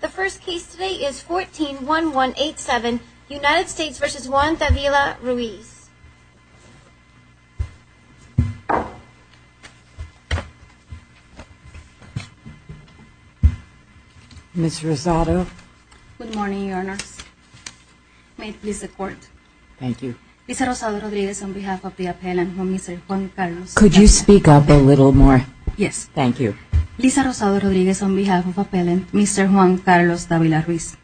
The first case today is 14-1187 United States v. Juan Davila-Ruiz Ms. Rosado Good morning, your honor May it please the court. Thank you. Lisa Rosado Rodriguez on behalf of the appellant, Mr. Juan Carlos Could you speak up a little more? Yes. Thank you. Lisa Rosado Rodriguez on behalf of the appellant, Mr. Juan Carlos Davila-Ruiz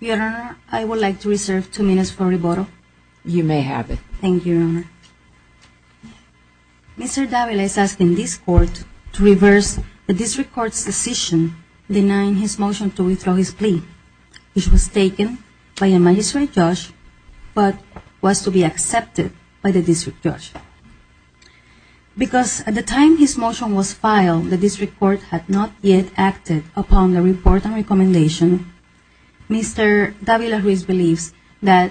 Your honor, I would like to reserve two minutes for rebuttal. You may have it. Thank you, your honor. Mr. Davila is asking this court to reverse the district court's decision denying his motion to withdraw his plea which was taken by a magistrate judge but was to be accepted by the district judge. Because at the time his motion was filed the district court had not yet acted upon the report and recommendation Mr. Davila-Ruiz believes that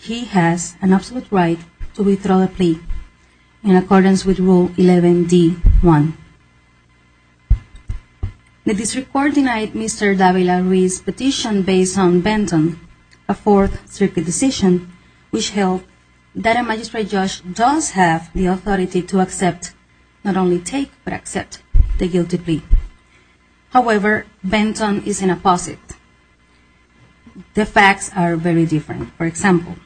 he has an absolute right to withdraw the plea in accordance with Rule 11d.1 The district court denied Mr. Davila-Ruiz's petition based on Benton, a Fourth Circuit decision which held that a magistrate judge does have the authority to accept not only take, but accept the guilty plea. However, Benton is an opposite. The facts are very different. For example,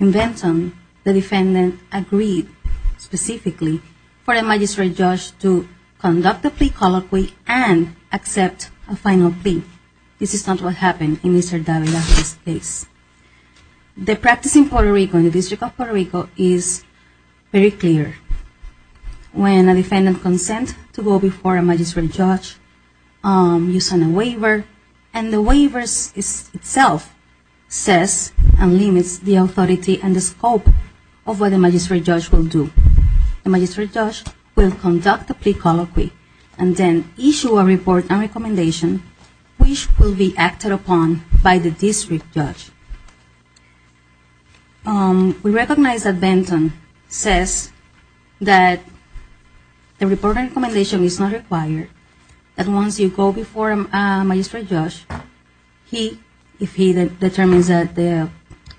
in Benton, the defendant agreed specifically for a magistrate judge to conduct the plea colloquy and accept a final plea. The practice in Puerto Rico, in the District of Puerto Rico, is very clear. When a defendant consents to go before a magistrate judge you sign a waiver, and the waiver itself says and limits the authority and the scope of what the magistrate judge will do. The magistrate judge will conduct the plea colloquy and then issue a report and recommendation which will be acted upon by the district judge. We recognize that Benton says that the report and recommendation is not required and once you go before a magistrate judge, if he determines that the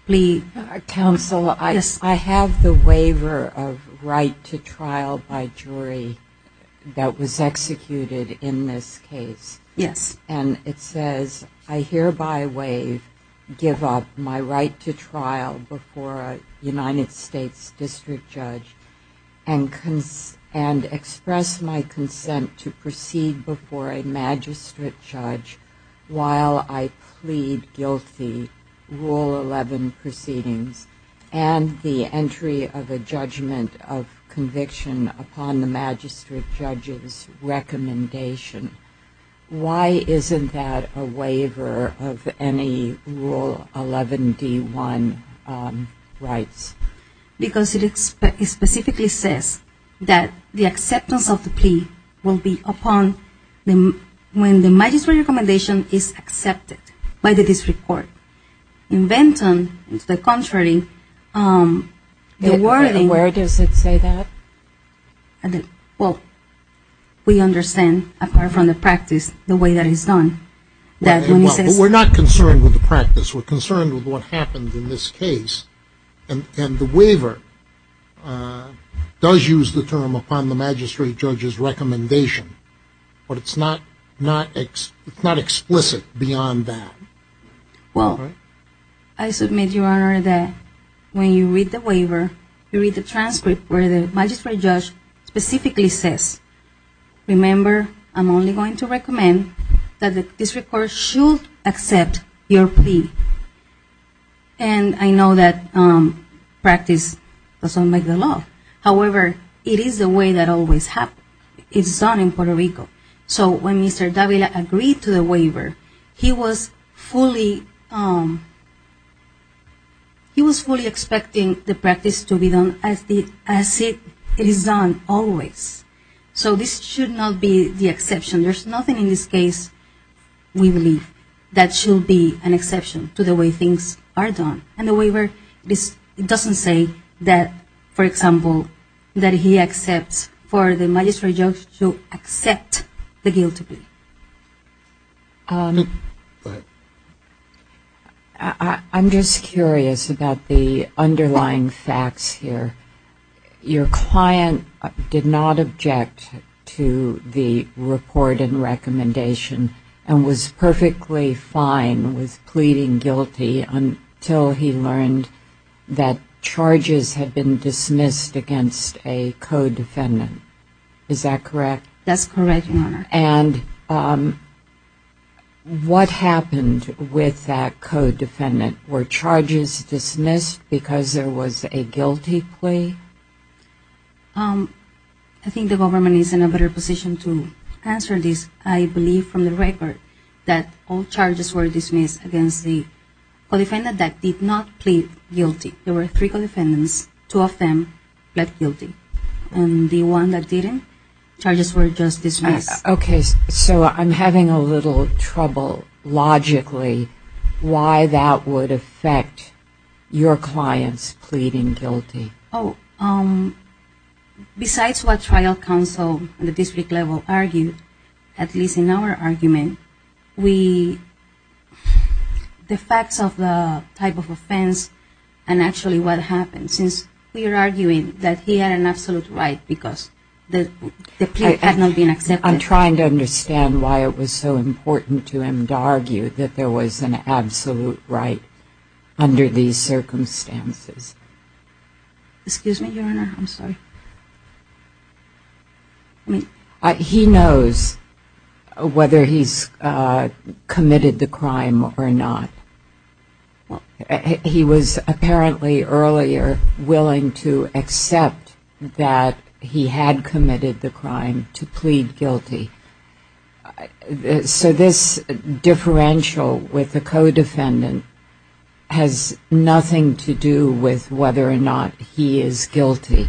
plea... Counsel, I have the waiver of right to trial by jury that was executed in this case. Yes. And it says, I hereby waive, give up my right to trial before a United States district judge and express my consent to proceed before a magistrate judge while I plead guilty, Rule 11 proceedings and the entry of a judgment of conviction upon the magistrate judge's recommendation. Why isn't that a waiver of any Rule 11 D1 rights? Because it specifically says that the acceptance of the plea will be upon when the magistrate recommendation is accepted by the district court. In Benton, it's the contrary. Where does it say that? Well, we understand, apart from the practice, the way that it's done. We're not concerned with the practice. We're concerned with what happens in this case and the waiver does use the term upon the magistrate judge's recommendation but it's not explicit beyond that. Well, I submit, Your Honor, that when you read the waiver, you read the transcript where the magistrate judge specifically says, remember, I'm only going to recommend that the district court should accept your plea. And I know that practice doesn't make the law. However, it is the way that always happens. It's done in Puerto Rico. So when Mr. Davila agreed to the waiver, he was fully expecting the practice to be done as it is done always. So this should not be the exception. There's nothing in this case, we believe, that should be an exception to the way things are done. And the waiver doesn't say that, for example, that he accepts for the magistrate judge to accept the guilty plea. Go ahead. I'm just curious about the underlying facts here. Your client did not object to the report and recommendation and was perfectly fine with pleading guilty until he learned that charges had been dismissed against a co-defendant. Is that correct? That's correct, Your Honor. And what happened with that co-defendant? Were charges dismissed because there was a guilty plea? I think the government is in a better position to answer this. I believe from the record that all charges were dismissed against the co-defendant that did not plead guilty. There were three co-defendants. Two of them pled guilty. And the one that didn't, charges were just dismissed. Okay, so I'm having a little trouble logically why that would affect your client's pleading guilty. Besides what trial counsel on the district level argued, at least in our argument, the facts of the type of offense and actually what happened, since we are arguing that he had an absolute right because the plea had not been accepted. I'm trying to understand why it was so important to him to argue that there was an absolute right under these circumstances. Excuse me, Your Honor. I'm sorry. He knows whether he's committed the crime or not. He was apparently earlier willing to accept that he had committed the crime to plead guilty. So this differential with the co-defendant has nothing to do with whether or not he is guilty.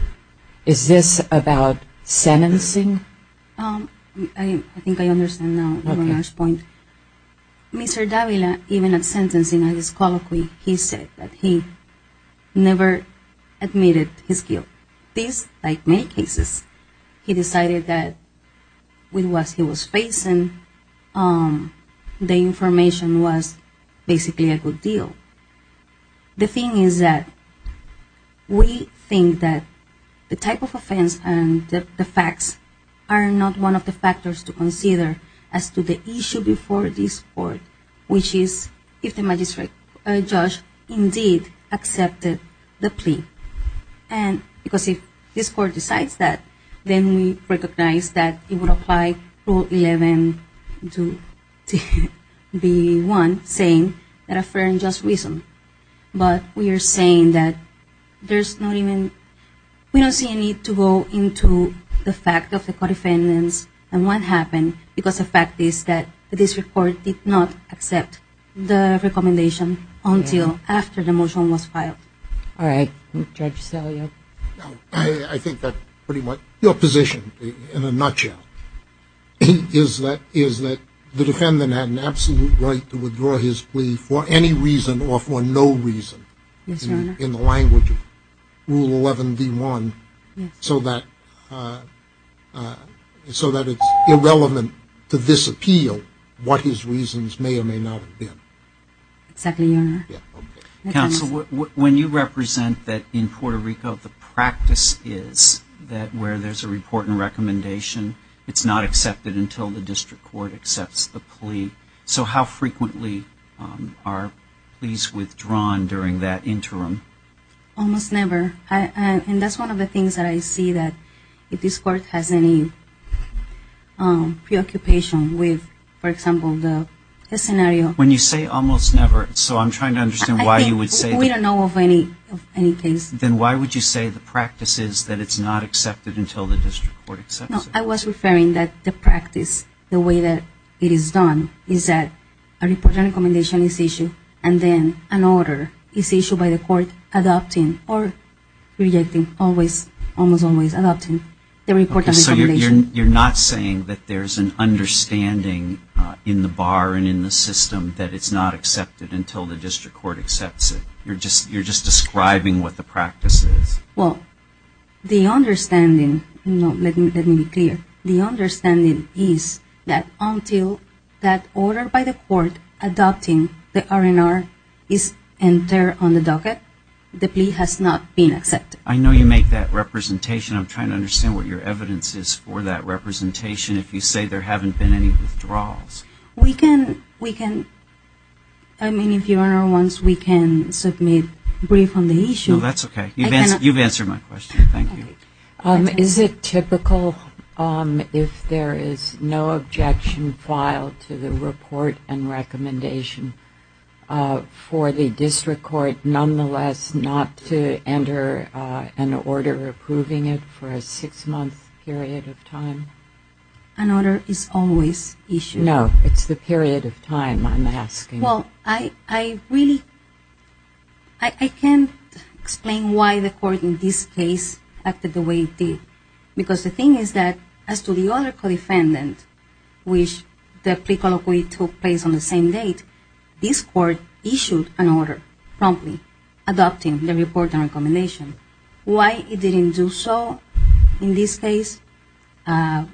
Is this about sentencing? I think I understand now your last point. Mr. Davila, even at sentencing, at his colloquy, he said that he never admitted his guilt. This, like many cases, he decided that with what he was facing, the information was basically a good deal. The thing is that we think that the type of offense and the facts are not one of the factors to consider as to the issue before this Court, which is if the magistrate judge indeed accepted the plea. Because if this Court decides that, then we recognize that it would apply Rule 11.2.1 saying that a fair and just reason. But we are saying that we don't see a need to go into the fact of the co-defendants and what happened because the fact is that this Court did not accept the recommendation until after the motion was filed. All right. Judge Salio. I think that pretty much your position in a nutshell is that the defendant had an absolute right to withdraw his plea for any reason or for no reason in the language of Rule 11.2.1, so that it's irrelevant to this appeal what his reasons may or may not have been. Exactly, Your Honor. Counsel, when you represent that in Puerto Rico, the practice is that where there's a report and recommendation, so how frequently are pleas withdrawn during that interim? Almost never. And that's one of the things that I see that if this Court has any preoccupation with, for example, the scenario. When you say almost never, so I'm trying to understand why you would say that. We don't know of any case. Then why would you say the practice is that it's not accepted until the district court accepts it? I was referring that the practice, the way that it is done, is that a report and recommendation is issued, and then an order is issued by the court adopting or rejecting, almost always adopting the report and recommendation. So you're not saying that there's an understanding in the bar and in the system that it's not accepted until the district court accepts it. You're just describing what the practice is. Well, the understanding, let me be clear, the understanding is that until that order by the court adopting the R&R is entered on the docket, the plea has not been accepted. I know you make that representation. I'm trying to understand what your evidence is for that representation if you say there haven't been any withdrawals. We can, I mean, if Your Honor wants, we can submit brief on the issue. No, that's okay. You've answered my question. Thank you. Is it typical if there is no objection filed to the report and recommendation for the district court nonetheless not to enter an order approving it for a six-month period of time? An order is always issued. No, it's the period of time I'm asking. Well, I really, I can't explain why the court in this case acted the way it did because the thing is that as to the other co-defendant, which the plea colloquy took place on the same date, this court issued an order promptly adopting the report and recommendation. Why it didn't do so in this case, I'm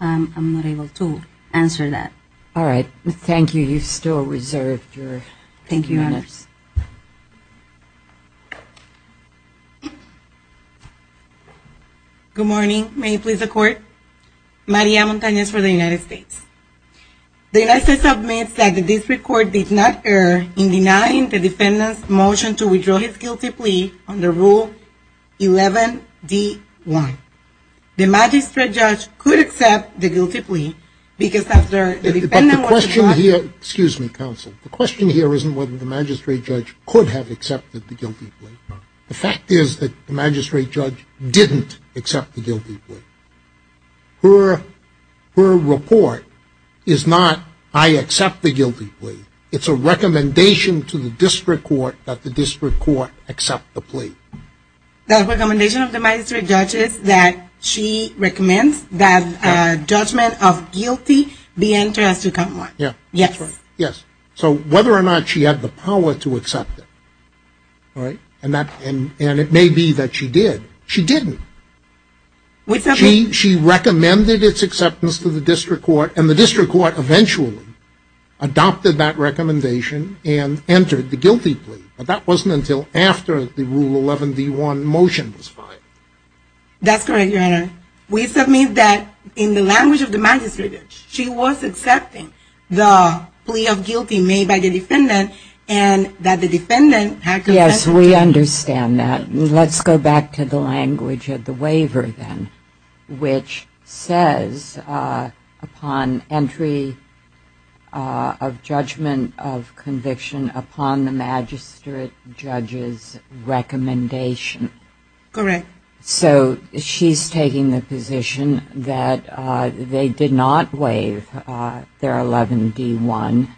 not able to answer that. All right. Thank you. You still reserve your minutes. Thank you, Your Honor. Good morning. May it please the Court? Maria Montanez for the United States. The United States submits that the district court did not err in denying the defendant's motion to withdraw his guilty plea under Rule 11-D-1. The magistrate judge could accept the guilty plea because after the defendant was The question here, excuse me, counsel, the question here isn't whether the magistrate judge could have accepted the guilty plea. The fact is that the magistrate judge didn't accept the guilty plea. Her report is not, I accept the guilty plea. It's a recommendation to the district court that the district court accept the plea. The recommendation of the magistrate judge is that she recommends that judgment of guilty be Yes. So whether or not she had the power to accept it, and it may be that she did, she didn't. She recommended its acceptance to the district court, and the district court eventually adopted that recommendation and entered the guilty plea. But that wasn't until after the Rule 11-D-1 motion was filed. That's correct, Your Honor. we submit that in the language of the magistrate, she was accepting the plea of guilty made by the defendant and that the defendant had Yes, we understand that. Let's go back to the language of the waiver then, which says upon entry of judgment of conviction upon the magistrate judge's recommendation. Correct. So she's taking the position that they did not waive their 11-D-1,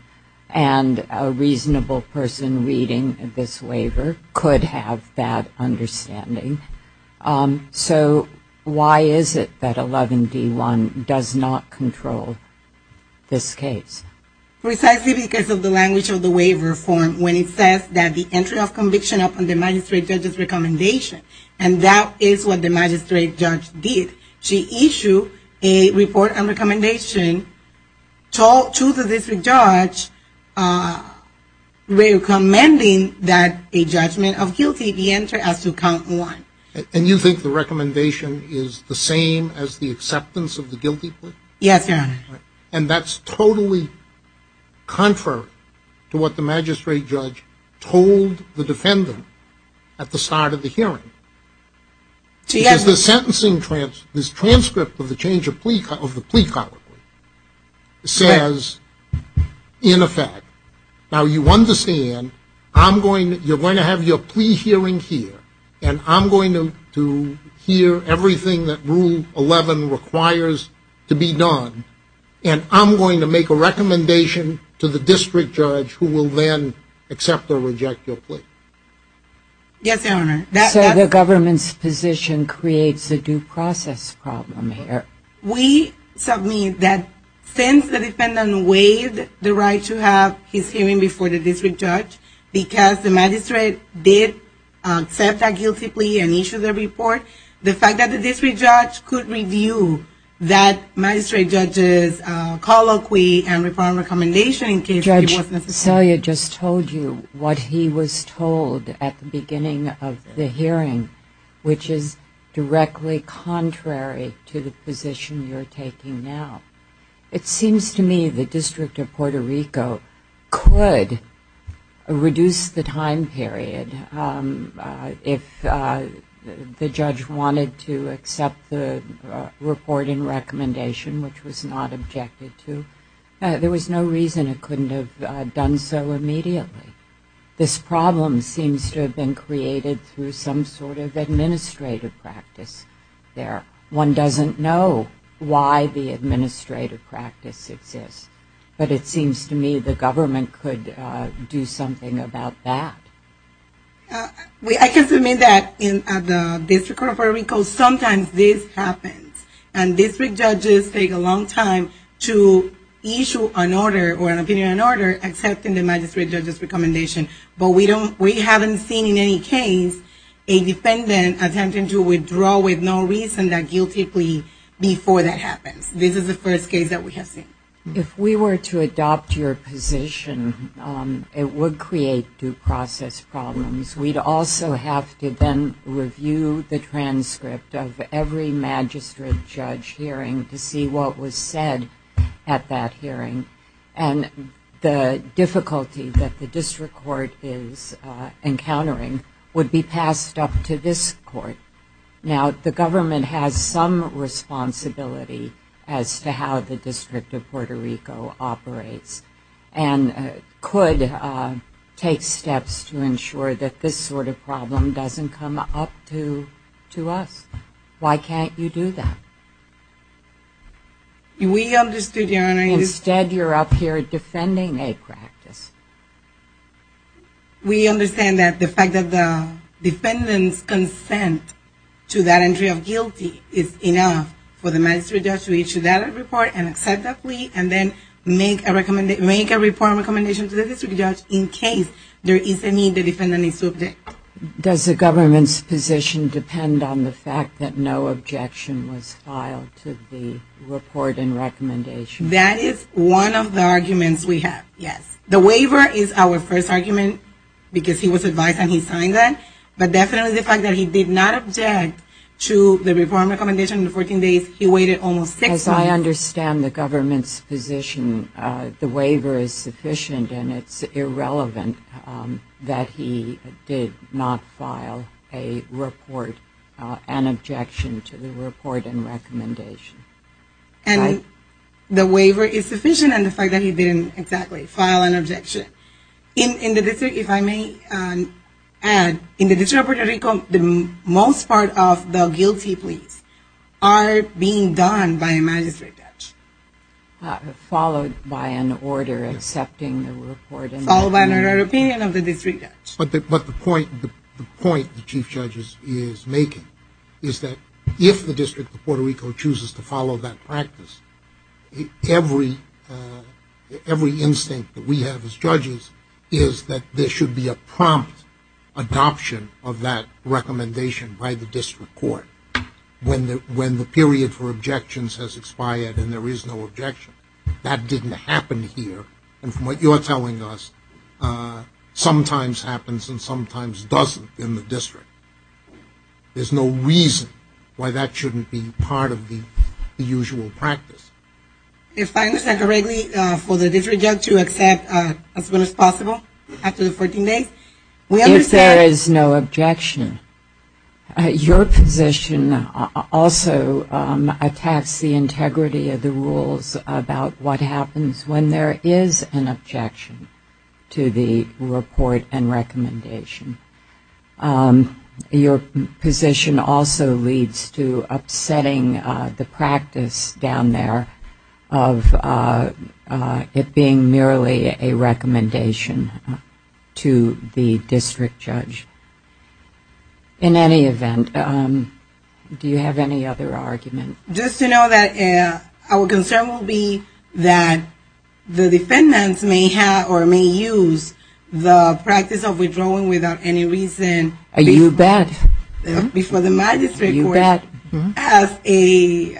and a reasonable person reading this waiver could have that understanding. So why is it that 11-D-1 does not control this case? Precisely because of the language of the waiver form when it says that the entry of conviction upon the magistrate judge's recommendation, and that is what the magistrate judge did. She issued a report and recommendation to the district judge recommending that a judgment of guilty be entered as to count one. And you think the recommendation is the same as the acceptance of the guilty plea? Yes, Your Honor. And that's totally contrary to what the magistrate judge told the defendant at the start of the hearing. Because the sentencing transcript, this transcript of the change of plea, of the plea colloquy, says in effect, now you understand I'm going to, you're going to have your plea hearing here, and I'm going to hear everything that Rule 11 requires to be done, and I'm going to make a recommendation to the district judge who will then accept or reject your plea. Yes, Your Honor. So the government's position creates a due process problem here. We submit that since the defendant waived the right to have his hearing before the district judge, because the magistrate did accept that guilty plea and issue the report, the fact that the district judge could review that magistrate judge's colloquy and reform recommendation in case it was necessary. Judge, Celia just told you what he was told at the beginning of the hearing, which is directly contrary to the position you're taking now. It seems to me the District of Puerto Rico could reduce the time period if the judge wanted to accept the report and recommendation, which was not objected to. There was no reason it couldn't have done so immediately. This problem seems to have been created through some sort of administrative practice there. One doesn't know why the administrative practice exists, but it seems to me the government could do something about that. I can submit that at the District of Puerto Rico sometimes this happens, and district judges take a long time to issue an order or an opinion on an order accepting the magistrate judge's recommendation. We haven't seen in any case a defendant attempting to withdraw with no reason that guilty plea before that happens. This is the first case that we have seen. If we were to adopt your position, it would create due process problems. We'd also have to then review the transcript of every magistrate judge hearing to see what was said at that hearing, and the difficulty that the district court is encountering would be passed up to this court. Now, the government has some responsibility as to how the District of Puerto Rico operates and could take steps to ensure that this sort of problem doesn't come up to us. Why can't you do that? Instead, you're up here defending a practice. We understand that the fact that the defendant's consent to that entry of guilty is enough for the magistrate judge to issue that report and accept that plea and then make a report of recommendation to the district judge in case there is a need the defendant is to object. Does the government's position depend on the fact that no objection was filed to the report and recommendation? That is one of the arguments we have, yes. The waiver is our first argument because he was advised and he signed that, but definitely the fact that he did not object to the report and recommendation in the 14 days. He waited almost six months. As I understand the government's position, the waiver is sufficient and it's irrelevant that he did not file a report, an objection to the report and recommendation. And the waiver is sufficient and the fact that he didn't exactly file an objection. In the District, if I may add, in the District of Puerto Rico, the most part of the guilty pleas are being done by a magistrate judge. Followed by an order accepting the report. Followed by an order of opinion of the district judge. But the point the chief judge is making is that if the District of Puerto Rico chooses to follow that practice, every instinct that we have as judges is that there should be a prompt adoption of that recommendation by the District Court. When the period for objections has expired and there is no objection, that didn't happen here. And from what you're telling us, sometimes happens and sometimes doesn't in the District. There's no reason why that shouldn't be part of the usual practice. If I understand correctly, for the district judge to accept as soon as possible after the 14 days? If there is no objection. Your position also attacks the integrity of the rules about what happens when there is an objection to the report and recommendation. Your position also leads to upsetting the practice down there of it being merely a recommendation to the district judge. In any event, do you have any other argument? Just to know that our concern will be that the defendants may have or may use the practice of withdrawing without any reason. You bet. Before the magistrate court. You bet. As a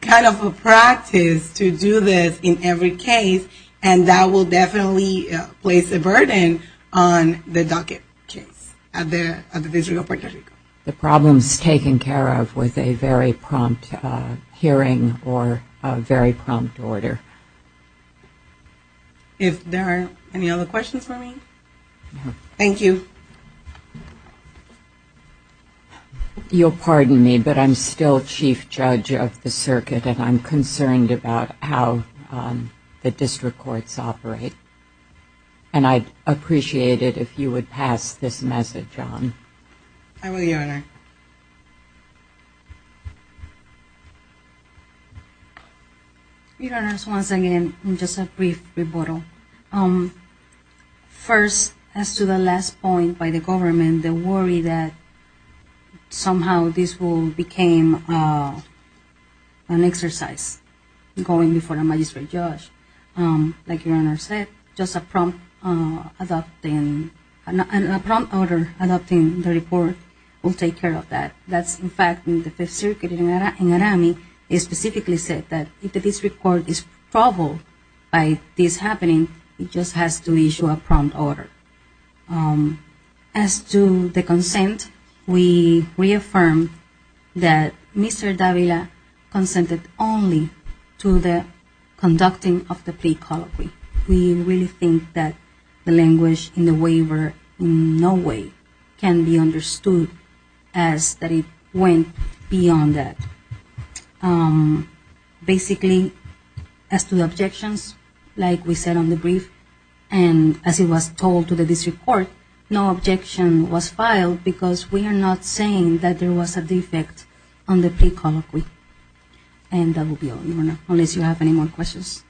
kind of a practice to do this in every case, and that will definitely place a burden on the docket case at the District of Puerto Rico. The problem is taken care of with a very prompt hearing or a very prompt order. If there are any other questions for me? Thank you. You'll pardon me, but I'm still chief judge of the circuit, and I'm concerned about how the district courts operate. And I'd appreciate it if you would pass this message on. I will, Your Honor. Your Honors, once again, just a brief rebuttal. First, as to the last point by the government, the worry that somehow this will become an exercise, going before a magistrate judge. Like Your Honor said, just a prompt order adopting the report will take care of that. That's, in fact, in the Fifth Circuit in Naramie, it specifically said that if the district court is troubled by this happening, it just has to issue a prompt order. As to the consent, we reaffirmed that Mr. Davila consented only to the conducting of the plea colloquy. We really think that the language in the waiver in no way can be understood as that it should be. It went beyond that. Basically, as to the objections, like we said on the brief, and as it was told to the district court, no objection was filed because we are not saying that there was a defect on the plea colloquy. And that will be all, Your Honor, unless you have any more questions.